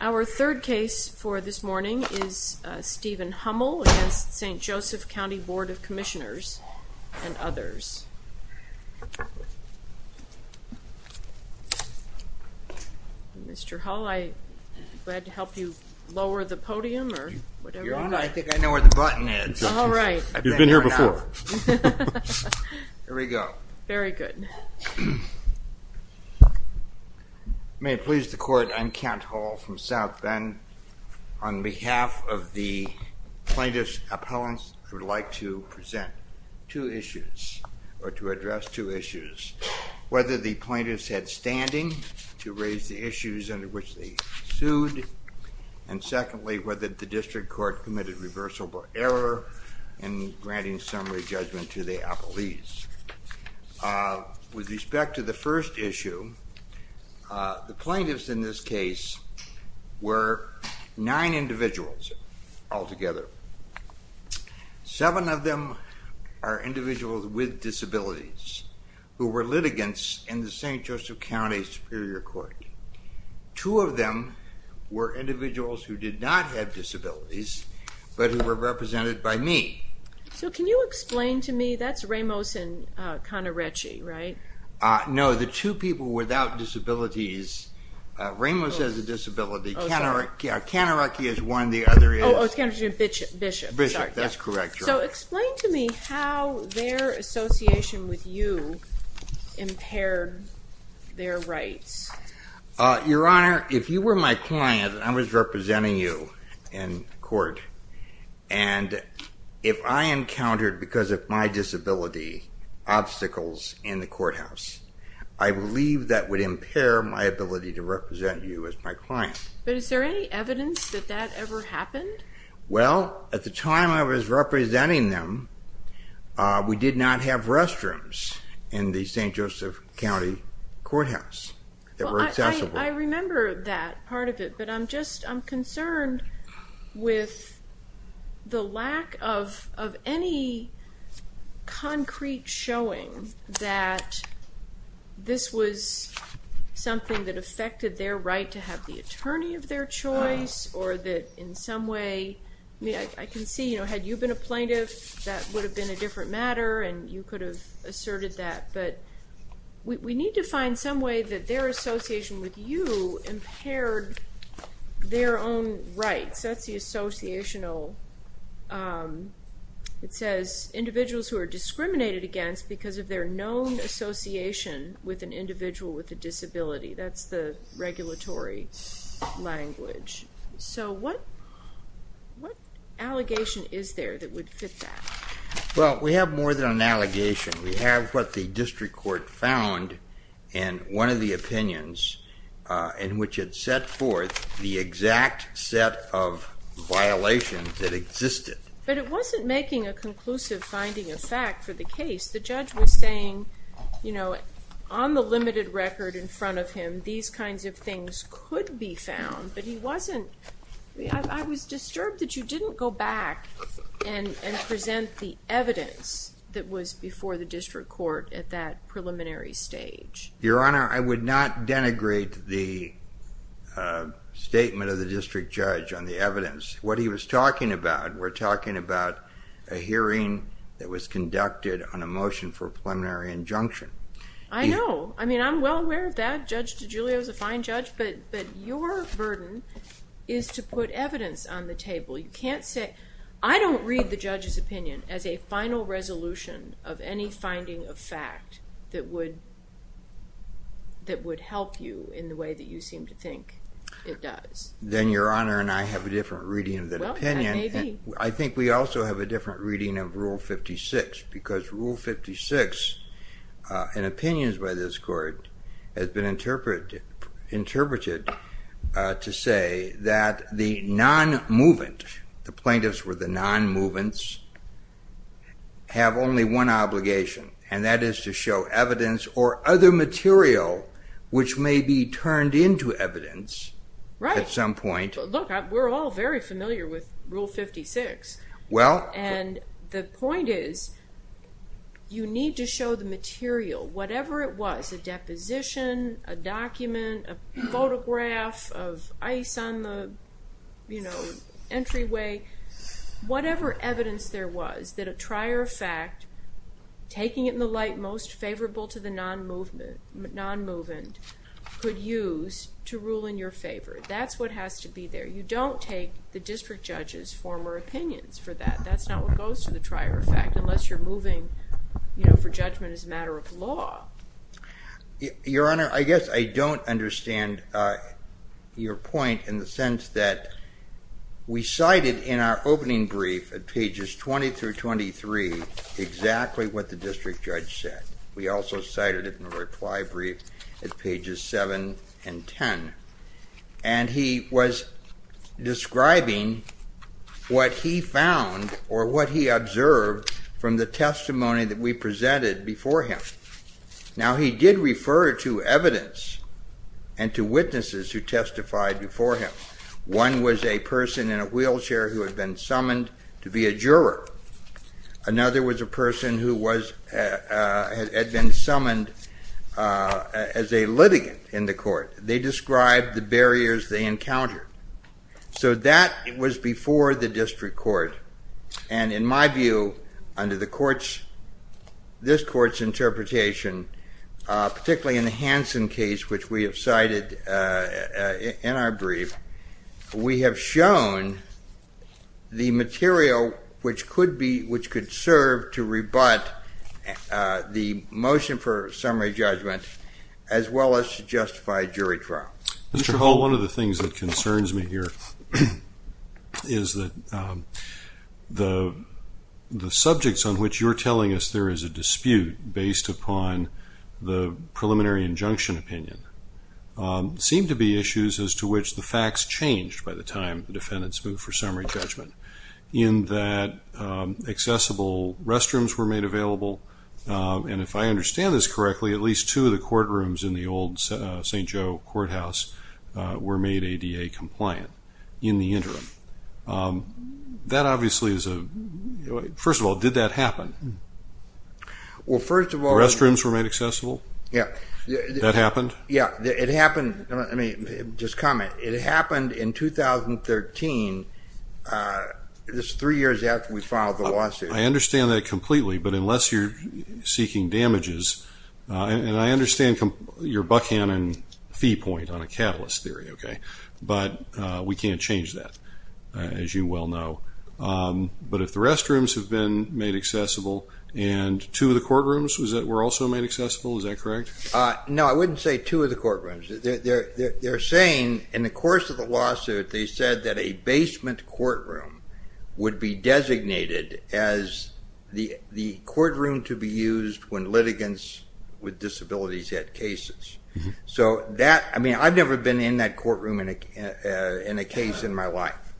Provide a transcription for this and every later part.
Our third case for this morning is Stephen Hummel v. St. Joseph County Board of Commissioners and others. Mr. Hull, I'm glad to help you lower the podium or whatever. I think I know where the button is. All right. You've been here before. Here we go. Very good. May it please the court, I'm Kent Hull from South Bend. On behalf of the plaintiffs' appellants, I would like to present two issues or to address two issues. Whether the plaintiffs had standing to raise the issues under which they sued and secondly, whether the district court committed reversal by error in granting summary judgment to the appellees. With respect to the first issue, the plaintiffs in this case were nine individuals altogether. Seven of them are individuals with disabilities who were litigants in the St. Joseph County Superior Court. Two of them were individuals who did not have disabilities, but who were represented by me. So can you explain to me, that's Ramos and Connarecchi, right? No, the two people without disabilities, Ramos has a disability, Connarecchi is one, the other is Bishop. That's correct. So explain to me how their association with you impaired their rights. Your Honor, if you were my client and I was representing you in court and if I encountered, because of my disability, obstacles in the courthouse, I believe that would impair my ability to represent you as my client. But is there any evidence that that ever happened? Well, at the time I was representing them, we did not have restrooms in the St. Joseph County Courthouse that were accessible. Well, I remember that part of it, but I'm just, I'm concerned with the lack of any concrete showing that this was something that affected their right to have the attorney of their choice or that in some way, I mean, I can see, you know, had you been a plaintiff, that would have been a different matter and you could have asserted that, but we need to find some way that their association with you impaired their own rights. That's the associational, it says individuals who are discriminated against because of their known association with an individual with a disability. That's the regulatory language. So what, what allegation is there that would fit that? Well, we have more than an allegation. We have what the district court found in one of the opinions in which it set forth the exact set of violations that existed. But it wasn't making a conclusive finding of fact for the case. The judge was saying, you know, on the limited record in front of him, these kinds of things could be found, but he wasn't, I was disturbed that you didn't go back and present the evidence that was before the district court at that preliminary stage. Your Honor, I would not denigrate the statement of the district judge on the evidence. What he was talking about, we're talking about a hearing that was conducted on a motion for preliminary injunction. I know. I mean, I'm well aware of that. Judge DiGiulio is a fine judge, but your burden is to put evidence on the table. You can't say, I don't read the judge's opinion as a final resolution of any finding of fact that would, that would help you in the way that you seem to think it does. Then Your Honor and I have a different reading of that opinion. Well, that may be. I think we also have a different reading of Rule 56 because Rule 56, in opinions by this court, has been interpreted to say that the non-movement, the plaintiffs were the non-movements, have only one obligation and that is to show evidence or other material which may be turned into evidence at some point. Right. Look, we're all very familiar with Rule 56. Well. And the point is, you need to show the material, whatever it was, a deposition, a document, a photograph of ice on the, you know, entryway, whatever evidence there was that a trier of fact, taking it in the light most favorable to the non-movement, non-movement could use to rule in your favor. That's what has to be there. You don't take the district judge's former opinions for that. That's not what goes to the trier of fact unless you're moving, you know, for judgment as a matter of law. Your Honor, I guess I don't understand your point in the sense that we cited in our opening brief at pages 20 through 23 exactly what the district judge said. We also cited it in the reply brief at pages 7 and 10. And he was describing what he found or what he observed from the testimony that we presented before him. Now he did refer to evidence and to witnesses who testified before him. One was a person in a wheelchair who had been had been summoned as a litigant in the court. They described the barriers they encountered. So that was before the district court. And in my view, under the court's, this court's interpretation, particularly in the Hansen case, which we have cited in our brief, we have shown the material which could be, which could serve to rebut the motion for summary judgment as well as to justify jury trial. Mr. Hall, one of the things that concerns me here is that the subjects on which you're telling us there is a dispute based upon the preliminary injunction opinion seem to be issues as to which the facts changed by the time the defendants moved for summary judgment in that accessible restrooms were made available. And if I understand this correctly, at least two of the courtrooms in the old St. Joe courthouse were made ADA compliant in the interim. That obviously is a, first of all, did that happen? Well, first of all, restrooms were made accessible. It happened, let me just comment, it happened in 2013, just three years after we filed the lawsuit. I understand that completely, but unless you're seeking damages, and I understand your Buckhannon fee point on a catalyst theory, okay, but we can't change that, as you well know. But if the restrooms have been made accessible and two of the courtrooms were also made accessible, is that correct? No, I wouldn't say two of the courtrooms. They're saying in the course of the lawsuit, they said that a basement courtroom would be designated as the courtroom to be used when litigants with disabilities had cases. So that, I mean, I've never been in that courtroom in a case in my life.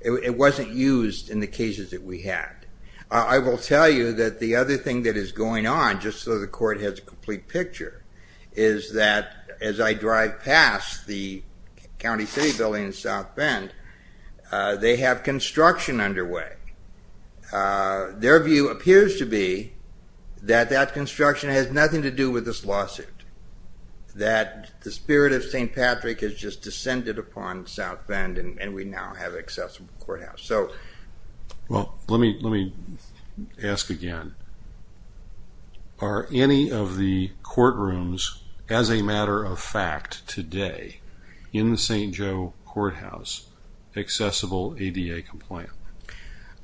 It wasn't used in the cases that we had. I will tell you that the other thing that is going on, just so the court has a complete picture, is that as I drive past the county city building in South Bend, they have construction underway. Their view appears to be that that construction has nothing to do with this lawsuit, that the spirit of St. Patrick has just descended upon South Bend and we now have an accessible courtroom, as a matter of fact, today in the St. Joe Courthouse, accessible ADA compliant.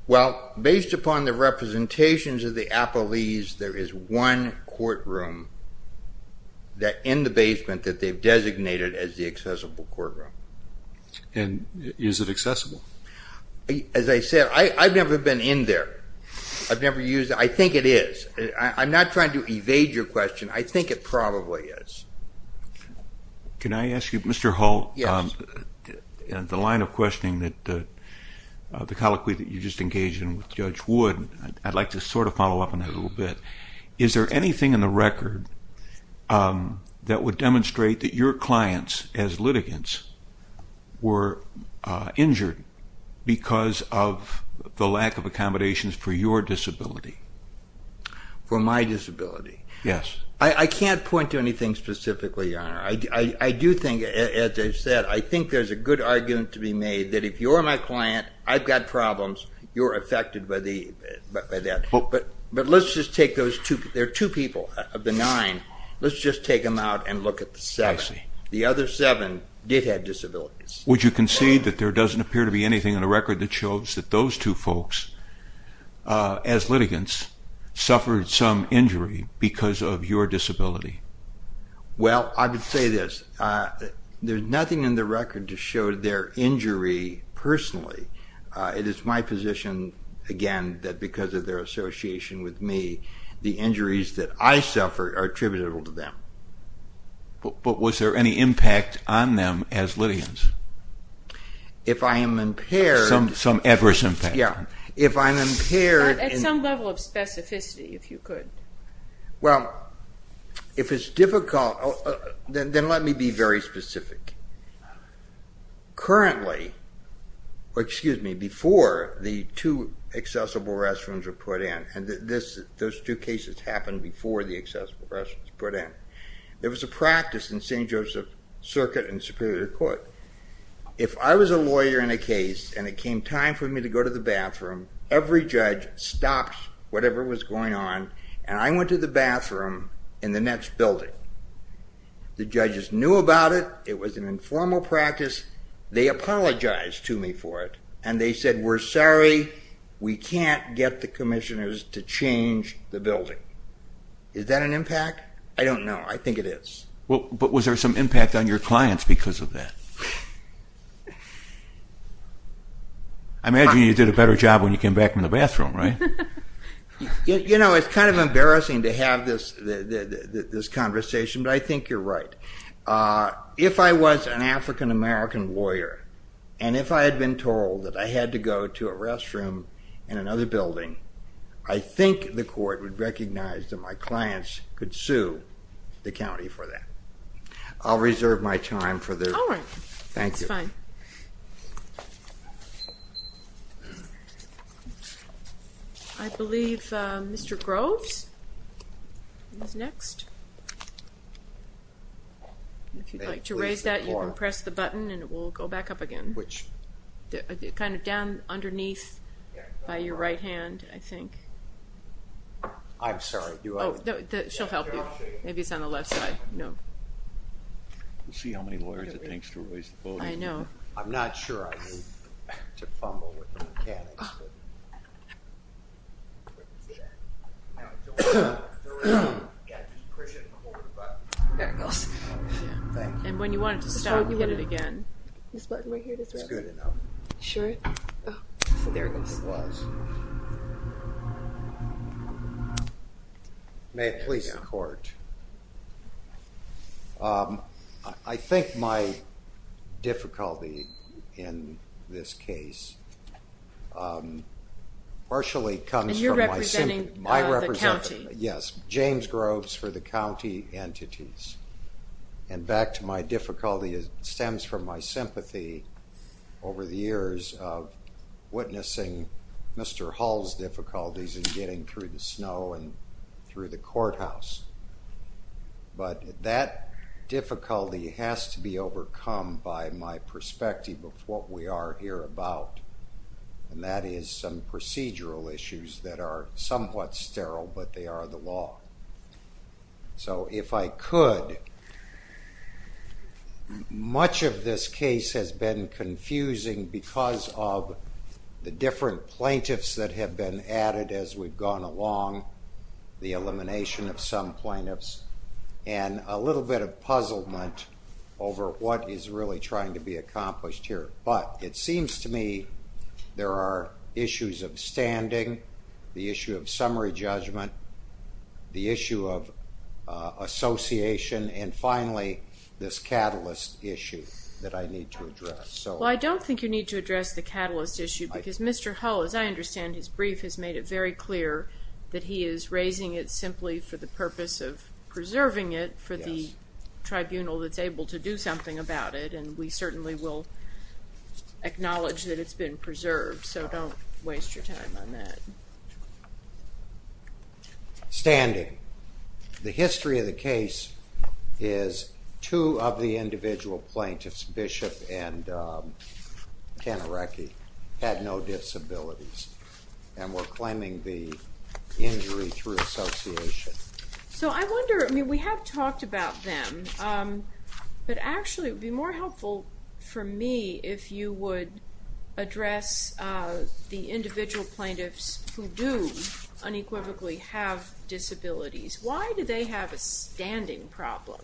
Well, based upon the representations of the appellees, there is one courtroom in the basement that they've designated as the accessible courtroom. And is it accessible? As I said, I've never been in there. I've never used it. I think it is. I'm not trying to evade your question. I think it probably is. Can I ask you, Mr. Hull, the line of questioning that the colloquy that you just engaged in with Judge Wood, I'd like to sort of follow up on that a little bit. Is there anything in the record that would demonstrate that your clients as litigants were injured because of the lack accommodations for your disability? For my disability? Yes. I can't point to anything specifically, Your Honor. I do think, as I've said, I think there's a good argument to be made that if you're my client, I've got problems, you're affected by that. But let's just take those two. There are two people of the nine. Let's just take them out and look at the seven. The other seven did have disabilities. Would you concede that there doesn't appear to be anything in the record that shows that those two folks as litigants suffered some injury because of your disability? Well, I would say this. There's nothing in the record to show their injury personally. It is my position, again, that because of their association with me, the injuries that I suffered are attributable to them. But was there any impact on them as litigants? If I am impaired... Some adverse impact. Yeah. If I'm impaired... At some level of specificity, if you could. Well, if it's difficult, then let me be very specific. Currently, or excuse me, before the two accessible restrooms were put in, and those two cases happened before the accessible restrooms were put in, there was a practice in St. Joseph Circuit and Superior Court. If I was a lawyer in a case and it came time for me to go to the bathroom, every judge stopped whatever was going on, and I went to the bathroom in the next building. The judges knew about it. It was an informal practice. They apologized to me for it, and they said, we're sorry, we can't get the commissioners to change the building. Is that an impact? I don't know if there was some impact on your clients because of that. I imagine you did a better job when you came back from the bathroom, right? You know, it's kind of embarrassing to have this conversation, but I think you're right. If I was an African-American lawyer, and if I had been told that I had to go to a restroom in another building, I think the court would recognize that my clients could sue the county for that. I'll reserve my time for this. All right. Thank you. It's fine. I believe Mr. Groves is next. If you'd like to raise that, you can press the button and it will go back up again. Which? Kind of down underneath by your right hand, I think. I'm sorry. She'll help you. Maybe it's on the left side. We'll see how many lawyers it takes to raise the voting. I'm not sure I need to fumble with the mechanics. And when you want it to stop, you hit it again. This button right here. It's good enough. Sure. So there it goes. May it please the court. I think my difficulty in this case partially comes from my... And you're representing the county. Yes, James Groves for the county entities. And back to my difficulty, it stems from my sympathy over the years of witnessing Mr. Hull's difficulties in getting through the snow and through the courthouse. But that difficulty has to be overcome by my perspective of what we are here about, and that is some procedural issues that are somewhat sterile but they are the law. So if I could, much of this case has been confusing because of the different plaintiffs that have been added as we've gone along, the elimination of some plaintiffs, and a little bit of puzzlement over what is really trying to be accomplished here. But it seems to me there are issues of issue of association and finally this catalyst issue that I need to address. Well, I don't think you need to address the catalyst issue because Mr. Hull, as I understand his brief, has made it very clear that he is raising it simply for the purpose of preserving it for the tribunal that's able to do something about it, and we certainly will acknowledge that it's been preserved. So the history of the case is two of the individual plaintiffs, Bishop and Tanarecki, had no disabilities and were claiming the injury through association. So I wonder, I mean we have talked about them, but actually it would be more helpful for me if you would address the individual plaintiffs who do unequivocally have disabilities. Why do they have a standing problem?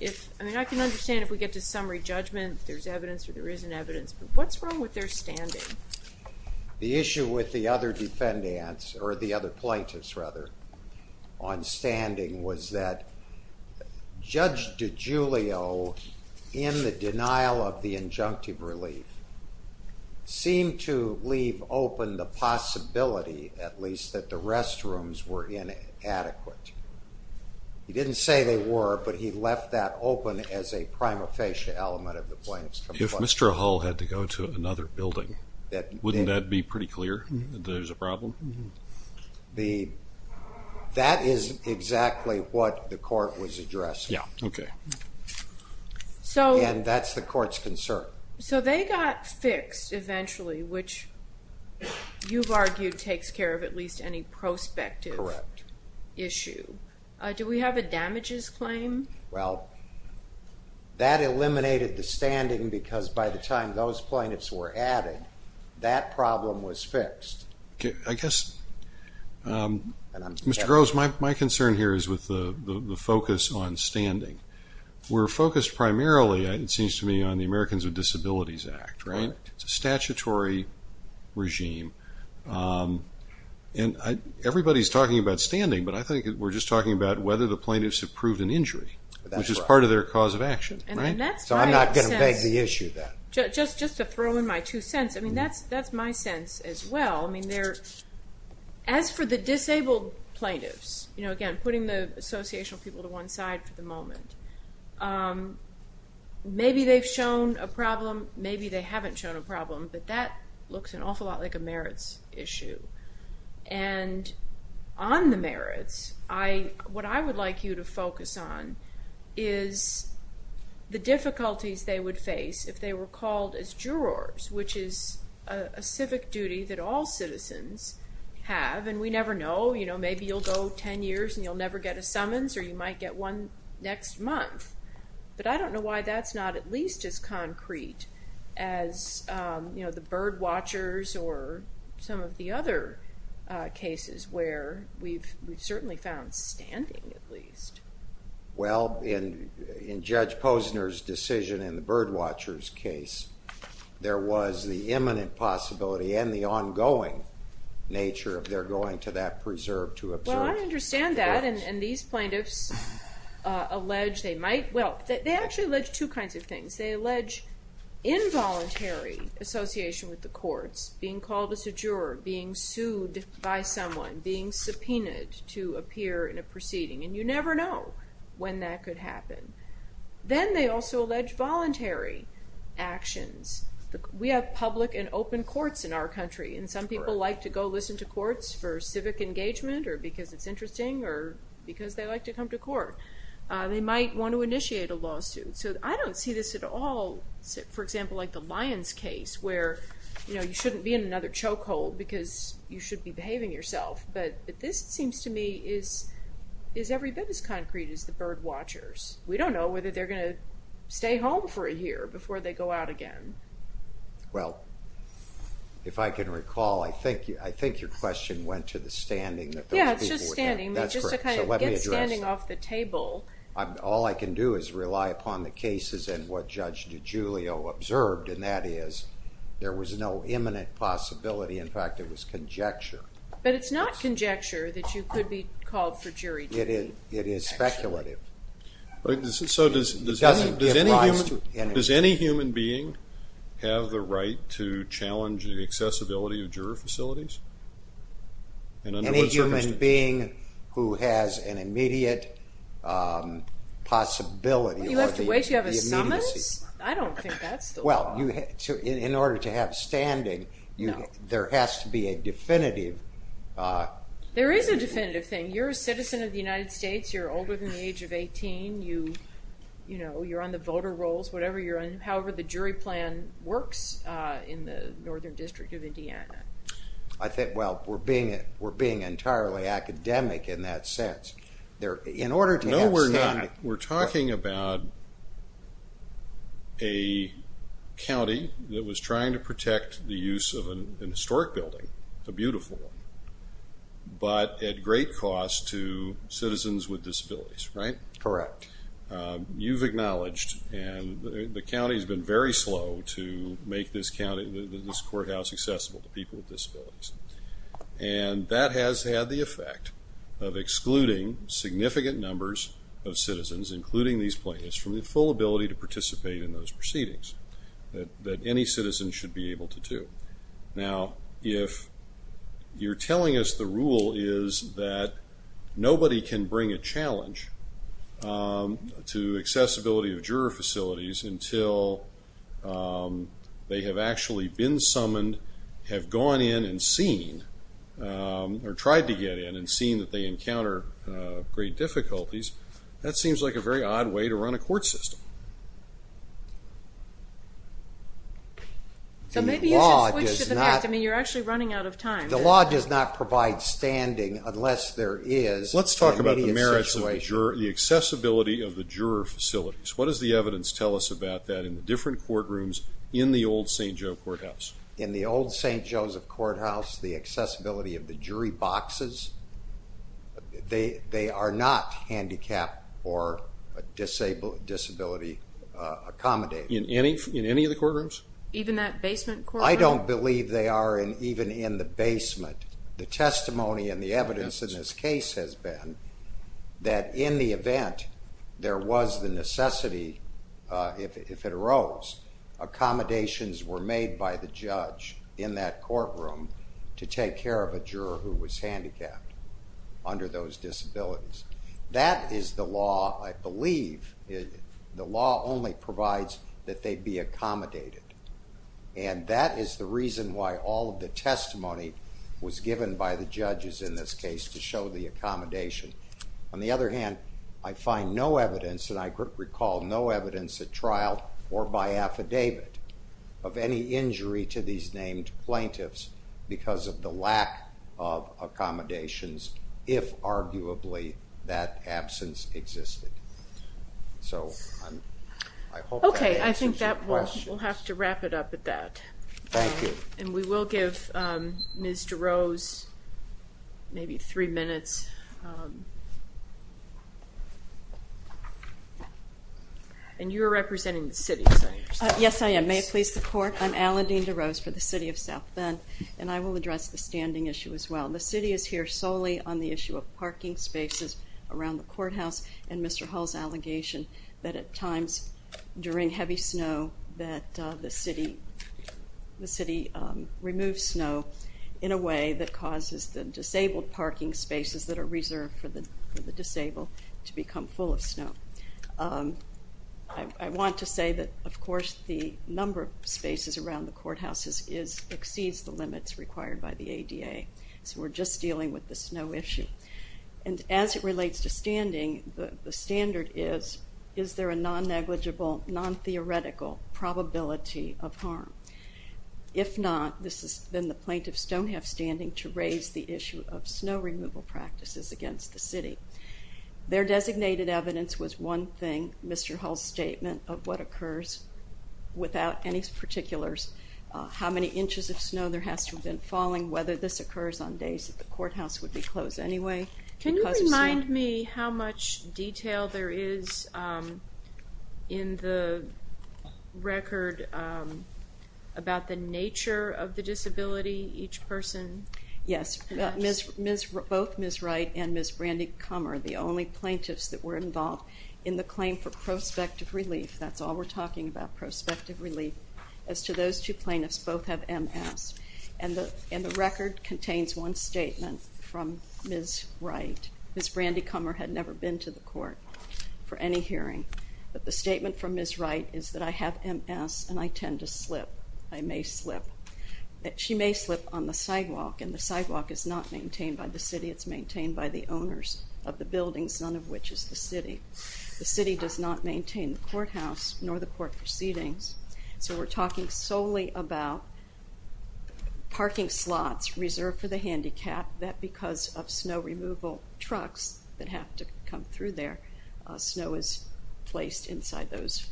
I mean I can understand if we get to summary judgment there's evidence or there isn't evidence, but what's wrong with their standing? The issue with the other defendants, or the other plaintiffs rather, on standing was that Judge DiGiulio, in the denial of the injunctive relief, seemed to leave open the possibility, at least, that the restrooms were inadequate. He didn't say they were, but he left that open as a prima facie element of the plaintiff's complaint. If Mr. Hull had to go to another building, wouldn't that be pretty clear that there's a problem? That is exactly what the Okay. And that's the court's concern. So they got fixed eventually, which you've argued takes care of at least any prospective issue. Correct. Do we have a damages claim? Well, that eliminated the standing because by the time those plaintiffs were added, that problem was fixed. Okay, I guess Mr. Groves, my concern here is with the focus on standing. We're focused primarily, it seems to me, on the Americans with Disabilities Act, right? It's a statutory regime and everybody's talking about standing, but I think we're just talking about whether the plaintiffs have proved an injury, which is part of their cause of action, right? So I'm not going to beg the issue then. Just to throw in my two cents, I mean, that's my sense as well. I mean, as for the disabled plaintiffs, again, putting the associational people to one side for the moment, maybe they've shown a problem, maybe they haven't shown a problem, but that looks an awful lot like a merits issue. And on the merits, what I would like you to focus on is the difficulties they would face if they were called as jurors, which is a civic duty that all citizens have. And we never know, you know, maybe you'll go 10 years and you'll never get a summons, or you might get one next month. But I don't know why that's not at least as concrete as, you know, the bird watchers or some of the other cases where we've certainly found standing, at least. Well, in Judge Posner's decision in the bird watchers case, there was the imminent possibility and the ongoing nature of their going to that preserve to observe. Well, I understand that, and these plaintiffs allege they might, well, they actually allege two kinds of things. They allege involuntary association with the courts, being called as a juror, being sued by someone, being subpoenaed to appear in proceeding. And you never know when that could happen. Then they also allege voluntary actions. We have public and open courts in our country, and some people like to go listen to courts for civic engagement, or because it's interesting, or because they like to come to court. They might want to initiate a lawsuit. So I don't see this at all, for example, like the Lyons case where, you know, you shouldn't be in another chokehold because you should be behaving yourself. But this seems to me is every bit as concrete as the bird watchers. We don't know whether they're going to stay home for a year before they go out again. Well, if I can recall, I think your question went to the standing that those people would have. Yeah, it's just standing, just to kind of get standing off the table. All I can do is rely upon the cases and what Judge DiGiulio observed, and that is there was no imminent possibility. In fact, it was conjecture. But it's not conjecture that you could be called for jury duty. It is speculative. So does any human being have the right to challenge the accessibility of juror facilities? Any human being who has an immediate possibility? You have to wait to have a summons? I don't think that's the law. Well, in order to have standing, there has to be a definitive... There is a definitive thing. You're a citizen of the United States. You're older than the age of 18. You know, you're on the voter rolls, whatever you're on. However, the jury plan works in the Northern District of Indiana. I think, well, we're entirely academic in that sense. In order to have standing... No, we're not. We're talking about a county that was trying to protect the use of an historic building, a beautiful one, but at great cost to citizens with disabilities, right? Correct. You've acknowledged, and the county has been very slow to make this county, this courthouse accessible to people with disabilities. That has had the effect of excluding significant numbers of citizens, including these plaintiffs, from the full ability to participate in those proceedings that any citizen should be able to do. Now, if you're telling us the rule is that nobody can bring a challenge to accessibility of juror facilities until they have actually been summoned, have gone in and seen or tried to get in and seen that they encounter great difficulties, that seems like a very odd way to run a court system. So maybe you should switch to the next. I mean, you're actually running out of time. The law does not provide standing unless there is an immediate situation. Let's talk about the merits of the accessibility of the juror facilities. What does the evidence tell us about that in the different boxes? They are not handicapped or disability accommodated. In any of the courtrooms? Even that basement courtroom? I don't believe they are even in the basement. The testimony and the evidence in this case has been that in the event there was the necessity, if it arose, accommodations were made by the judge in that courtroom to take care of a juror who was handicapped under those disabilities. That is the law, I believe, the law only provides that they be accommodated. And that is the reason why all of the testimony was given by the judges in this case to show the accommodation. On the other hand, I find no evidence, and I recall no evidence at all, in the affidavit of any injury to these named plaintiffs because of the lack of accommodations if arguably that absence existed. So I hope that answers your questions. Okay, I think that we'll have to wrap it up at that. Thank you. And we will give Ms. DeRose maybe three minutes. And you're representing the City, Senator? Yes, I am. May it please the Court, I'm Alan Dean DeRose for the City of South Bend, and I will address the standing issue as well. The City is here solely on the issue of parking spaces around the courthouse and Mr. Hull's allegation that at times during heavy snow that the City removes snow in a way that causes the disabled parking spaces that are reserved for the disabled to become full of snow. I want to say that of course the number of spaces around the courthouses exceeds the limits required by the ADA. So we're just dealing with the snow issue. And as it relates to standing, the standard is, is there a non-negligible, non-theoretical probability of harm? If not, then the plaintiffs don't have standing to raise the issue of snow removal practices against the City. Their designated evidence was one thing, Mr. Hull's statement of what occurs without any particulars, how many inches of snow there has to have been falling, whether this occurs on days that the courthouse would be closed anyway. Can you remind me how much detail there is in the record about the nature of the disability each person has? Yes, both Ms. Wright and Ms. Brandy Comer, the only plaintiffs that were involved in the claim for prospective relief, that's all we're talking about, prospective relief, as to those two plaintiffs, both have MS, and the record contains one statement from Ms. Wright. Ms. Brandy Comer had never been to the court for any hearing, but the statement from Ms. Wright is that I have MS and I tend to slip. I may slip. She may slip on the sidewalk, and the sidewalk is not maintained by the City, it's maintained by the owners of the buildings, none of which is the City. The City does not maintain the courthouse nor the court proceedings, so we're talking solely about parking slots reserved for the handicapped that because of snow removal trucks that have to come through there, snow is placed inside those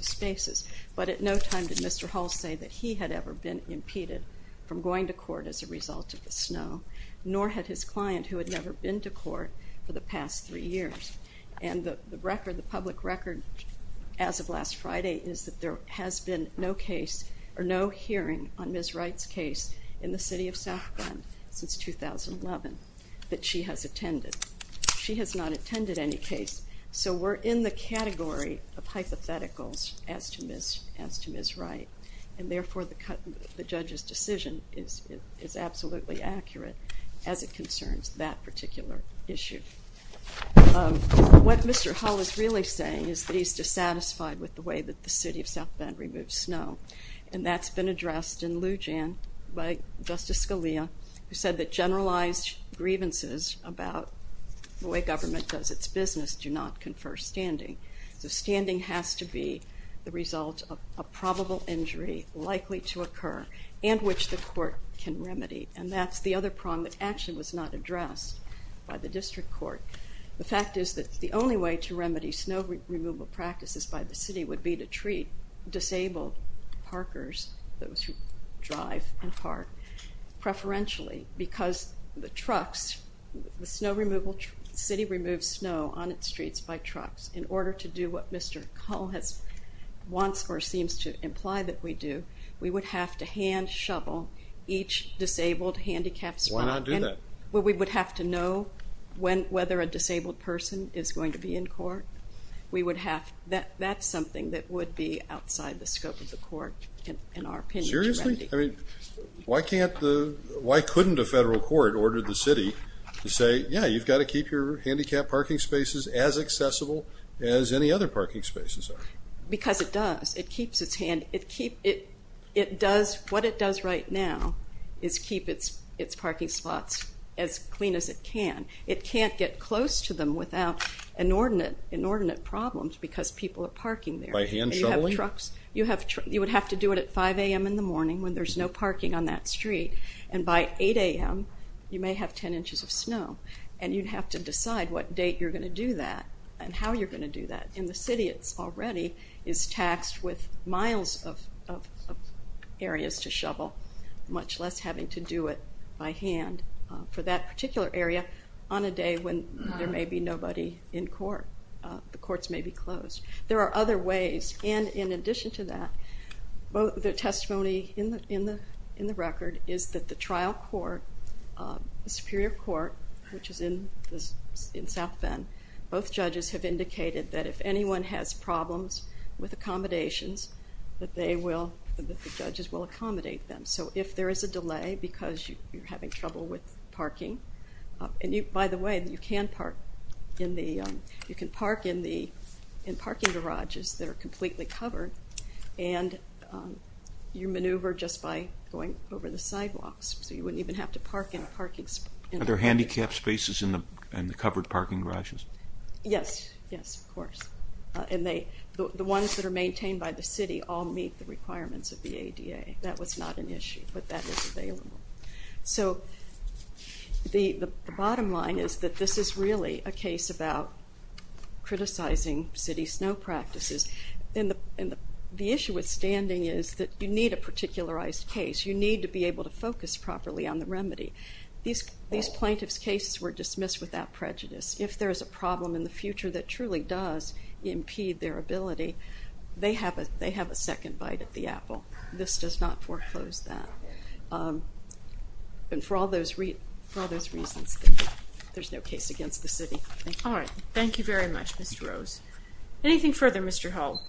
spaces, but at no time did Mr. Hull say that he had ever been impeded from going to court as a result of the snow, nor had his client who had never been to court for the past three years, and the record, the public record as of last Friday is that there has been no case or no hearing on Ms. Wright's case in the City of South Grand since 2011 that she has attended. She has not attended any case, so we're in the category of hypotheticals as to Ms. Wright, and therefore the judge's decision is absolutely accurate as it concerns that particular issue. What Mr. Hull is really saying is that he's dissatisfied with the way that the City of South Bend removes snow, and that's been addressed in Lujan by Justice Scalia, who said that generalized grievances about the way government does its business do not confer standing. So standing has to be the result of a probable injury likely to occur and which the court can by the district court. The fact is that the only way to remedy snow removal practices by the city would be to treat disabled parkers, those who drive and park, preferentially because the trucks, the snow removal, city removes snow on its streets by trucks. In order to do what Mr. Hull has wants or seems to imply that we do, we would have to hand shovel each disabled handicapped spot. We would have to know whether a disabled person is going to be in court. That's something that would be outside the scope of the court in our opinion. Seriously? Why couldn't a federal court order the city to say, yeah, you've got to keep your handicapped parking spaces as accessible as any other parking spaces are? Because it does. It keeps its hand. What it does right now is keep its parking spots as clean as it can. It can't get close to them without inordinate problems because people are parking there. By hand shoveling? You would have to do it at 5 a.m. in the morning when there's no parking on that street, and by 8 a.m. you may have 10 inches of snow, and you'd have to decide what date you're going to do that and how you're going to do that. In the city, it's already is taxed with miles of areas to shovel, much less having to do it by hand for that particular area on a day when there may be nobody in court. The courts may be closed. There are other ways, and in addition to that, the testimony in the record is that the trial court, the Superior Court, which is in South Bend, both judges have indicated that if anyone has problems with accommodations, that the judges will accommodate them. So if there is a delay because you're having trouble with parking, and by the way, you can park in parking garages that are completely covered, and you maneuver just by going over the sidewalks, so you wouldn't even have to park in a parking space. Are there handicapped spaces in the covered parking garages? Yes, yes, of course, and the ones that are maintained by the city all meet the requirements of the ADA. That was not an issue, but that is available. So the bottom line is that this is really a case about criticizing city snow practices, and the issue with standing is that you a particularized case. You need to be able to focus properly on the remedy. These plaintiff's cases were dismissed without prejudice. If there is a problem in the future that truly does impede their ability, they have a second bite at the apple. This does not foreclose that, and for all those reasons, there's no case against the city. All right, thank you very much, Mr. Rose. Anything further, Mr. Hull?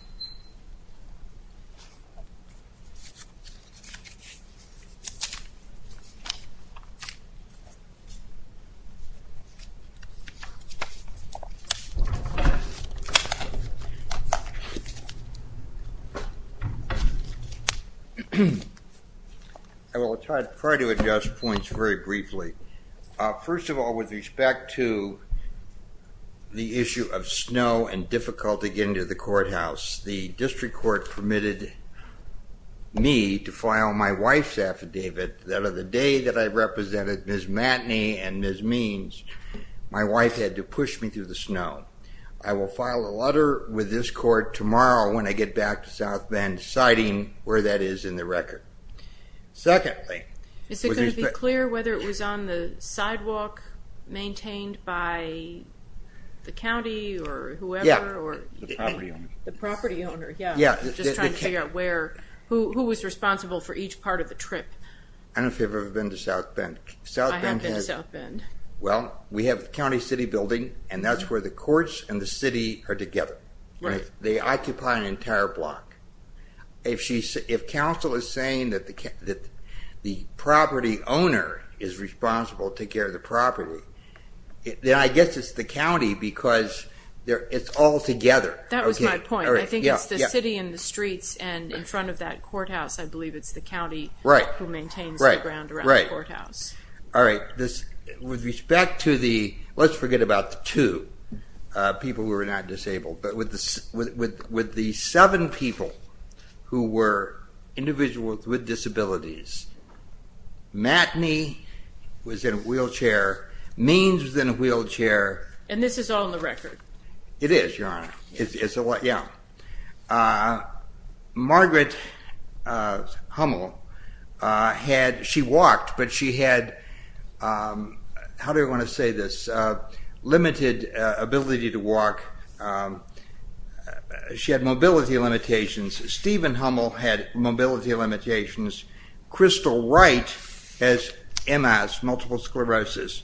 I will try to adjust points very briefly. First of all, with respect to the issue of snow and difficulty getting to the courthouse, the district court permitted me to file my wife's affidavit that of the day that I represented Ms. Matney and Ms. Means. My wife had to push me through the snow. I will file a letter with this court tomorrow when I get back to South Bend, citing where that is in the record. Secondly, is it going to be clear whether it was on the sidewalk maintained by the county or whoever? Yeah, the property owner. The property owner, yeah. Just trying to figure out who was responsible for each part of the trip. I don't know if you've ever been to South Bend. I have been to South Bend. Well, we have the county city building, and that's where the courts and the city are together. They occupy an entire block. If counsel is saying that the property owner is responsible to take care of the property, then I guess it's the county because it's all together. That was my point. I think it's the city and the streets, and in front of that courthouse, I believe it's the county who maintains the ground around the courthouse. All right. With respect to the, let's forget about two people who were not disabled, but with the seven people who were individuals with disabilities, Matney was in a wheelchair, Means was in a wheelchair. And this is all in the record. It is, Your Honor. It's a lot, yeah. Margaret Hummel had, she walked, but she had, how do I want to say this, limited ability to walk. She had mobility limitations. Stephen Hummel had mobility limitations. Crystal Wright has MS, multiple sclerosis.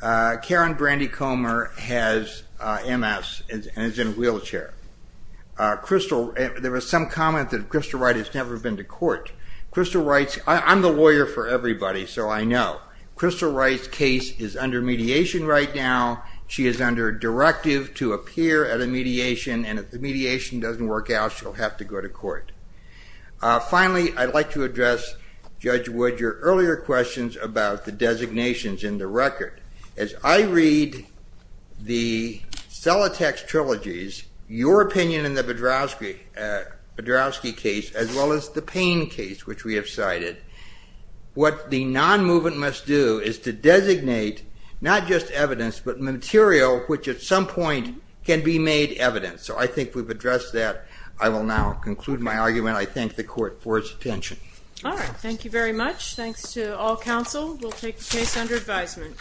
Karen Brandy Comer has MS and is in a wheelchair. Crystal, there was some comment that Crystal Wright has never been to court. Crystal Wright's, I'm the lawyer for everybody, so I know. Crystal Wright's case is under mediation right now. She is under a directive to appear at a mediation, and if the mediation doesn't work out, she'll have to go to court. Finally, I'd like to address, Judge Wood, your earlier questions about the designations in the record. As I read the Celatex trilogies, your opinion in the Badrowski case, as well as the Payne case, which we have cited, what the non-movement must do is to designate, not just evidence, but material which at some point can be made evidence. So I think we've addressed that. I will now conclude my argument. I thank the court for its attention. All right. Thank you very much. Thanks to all counsel. We'll take the case under advisement.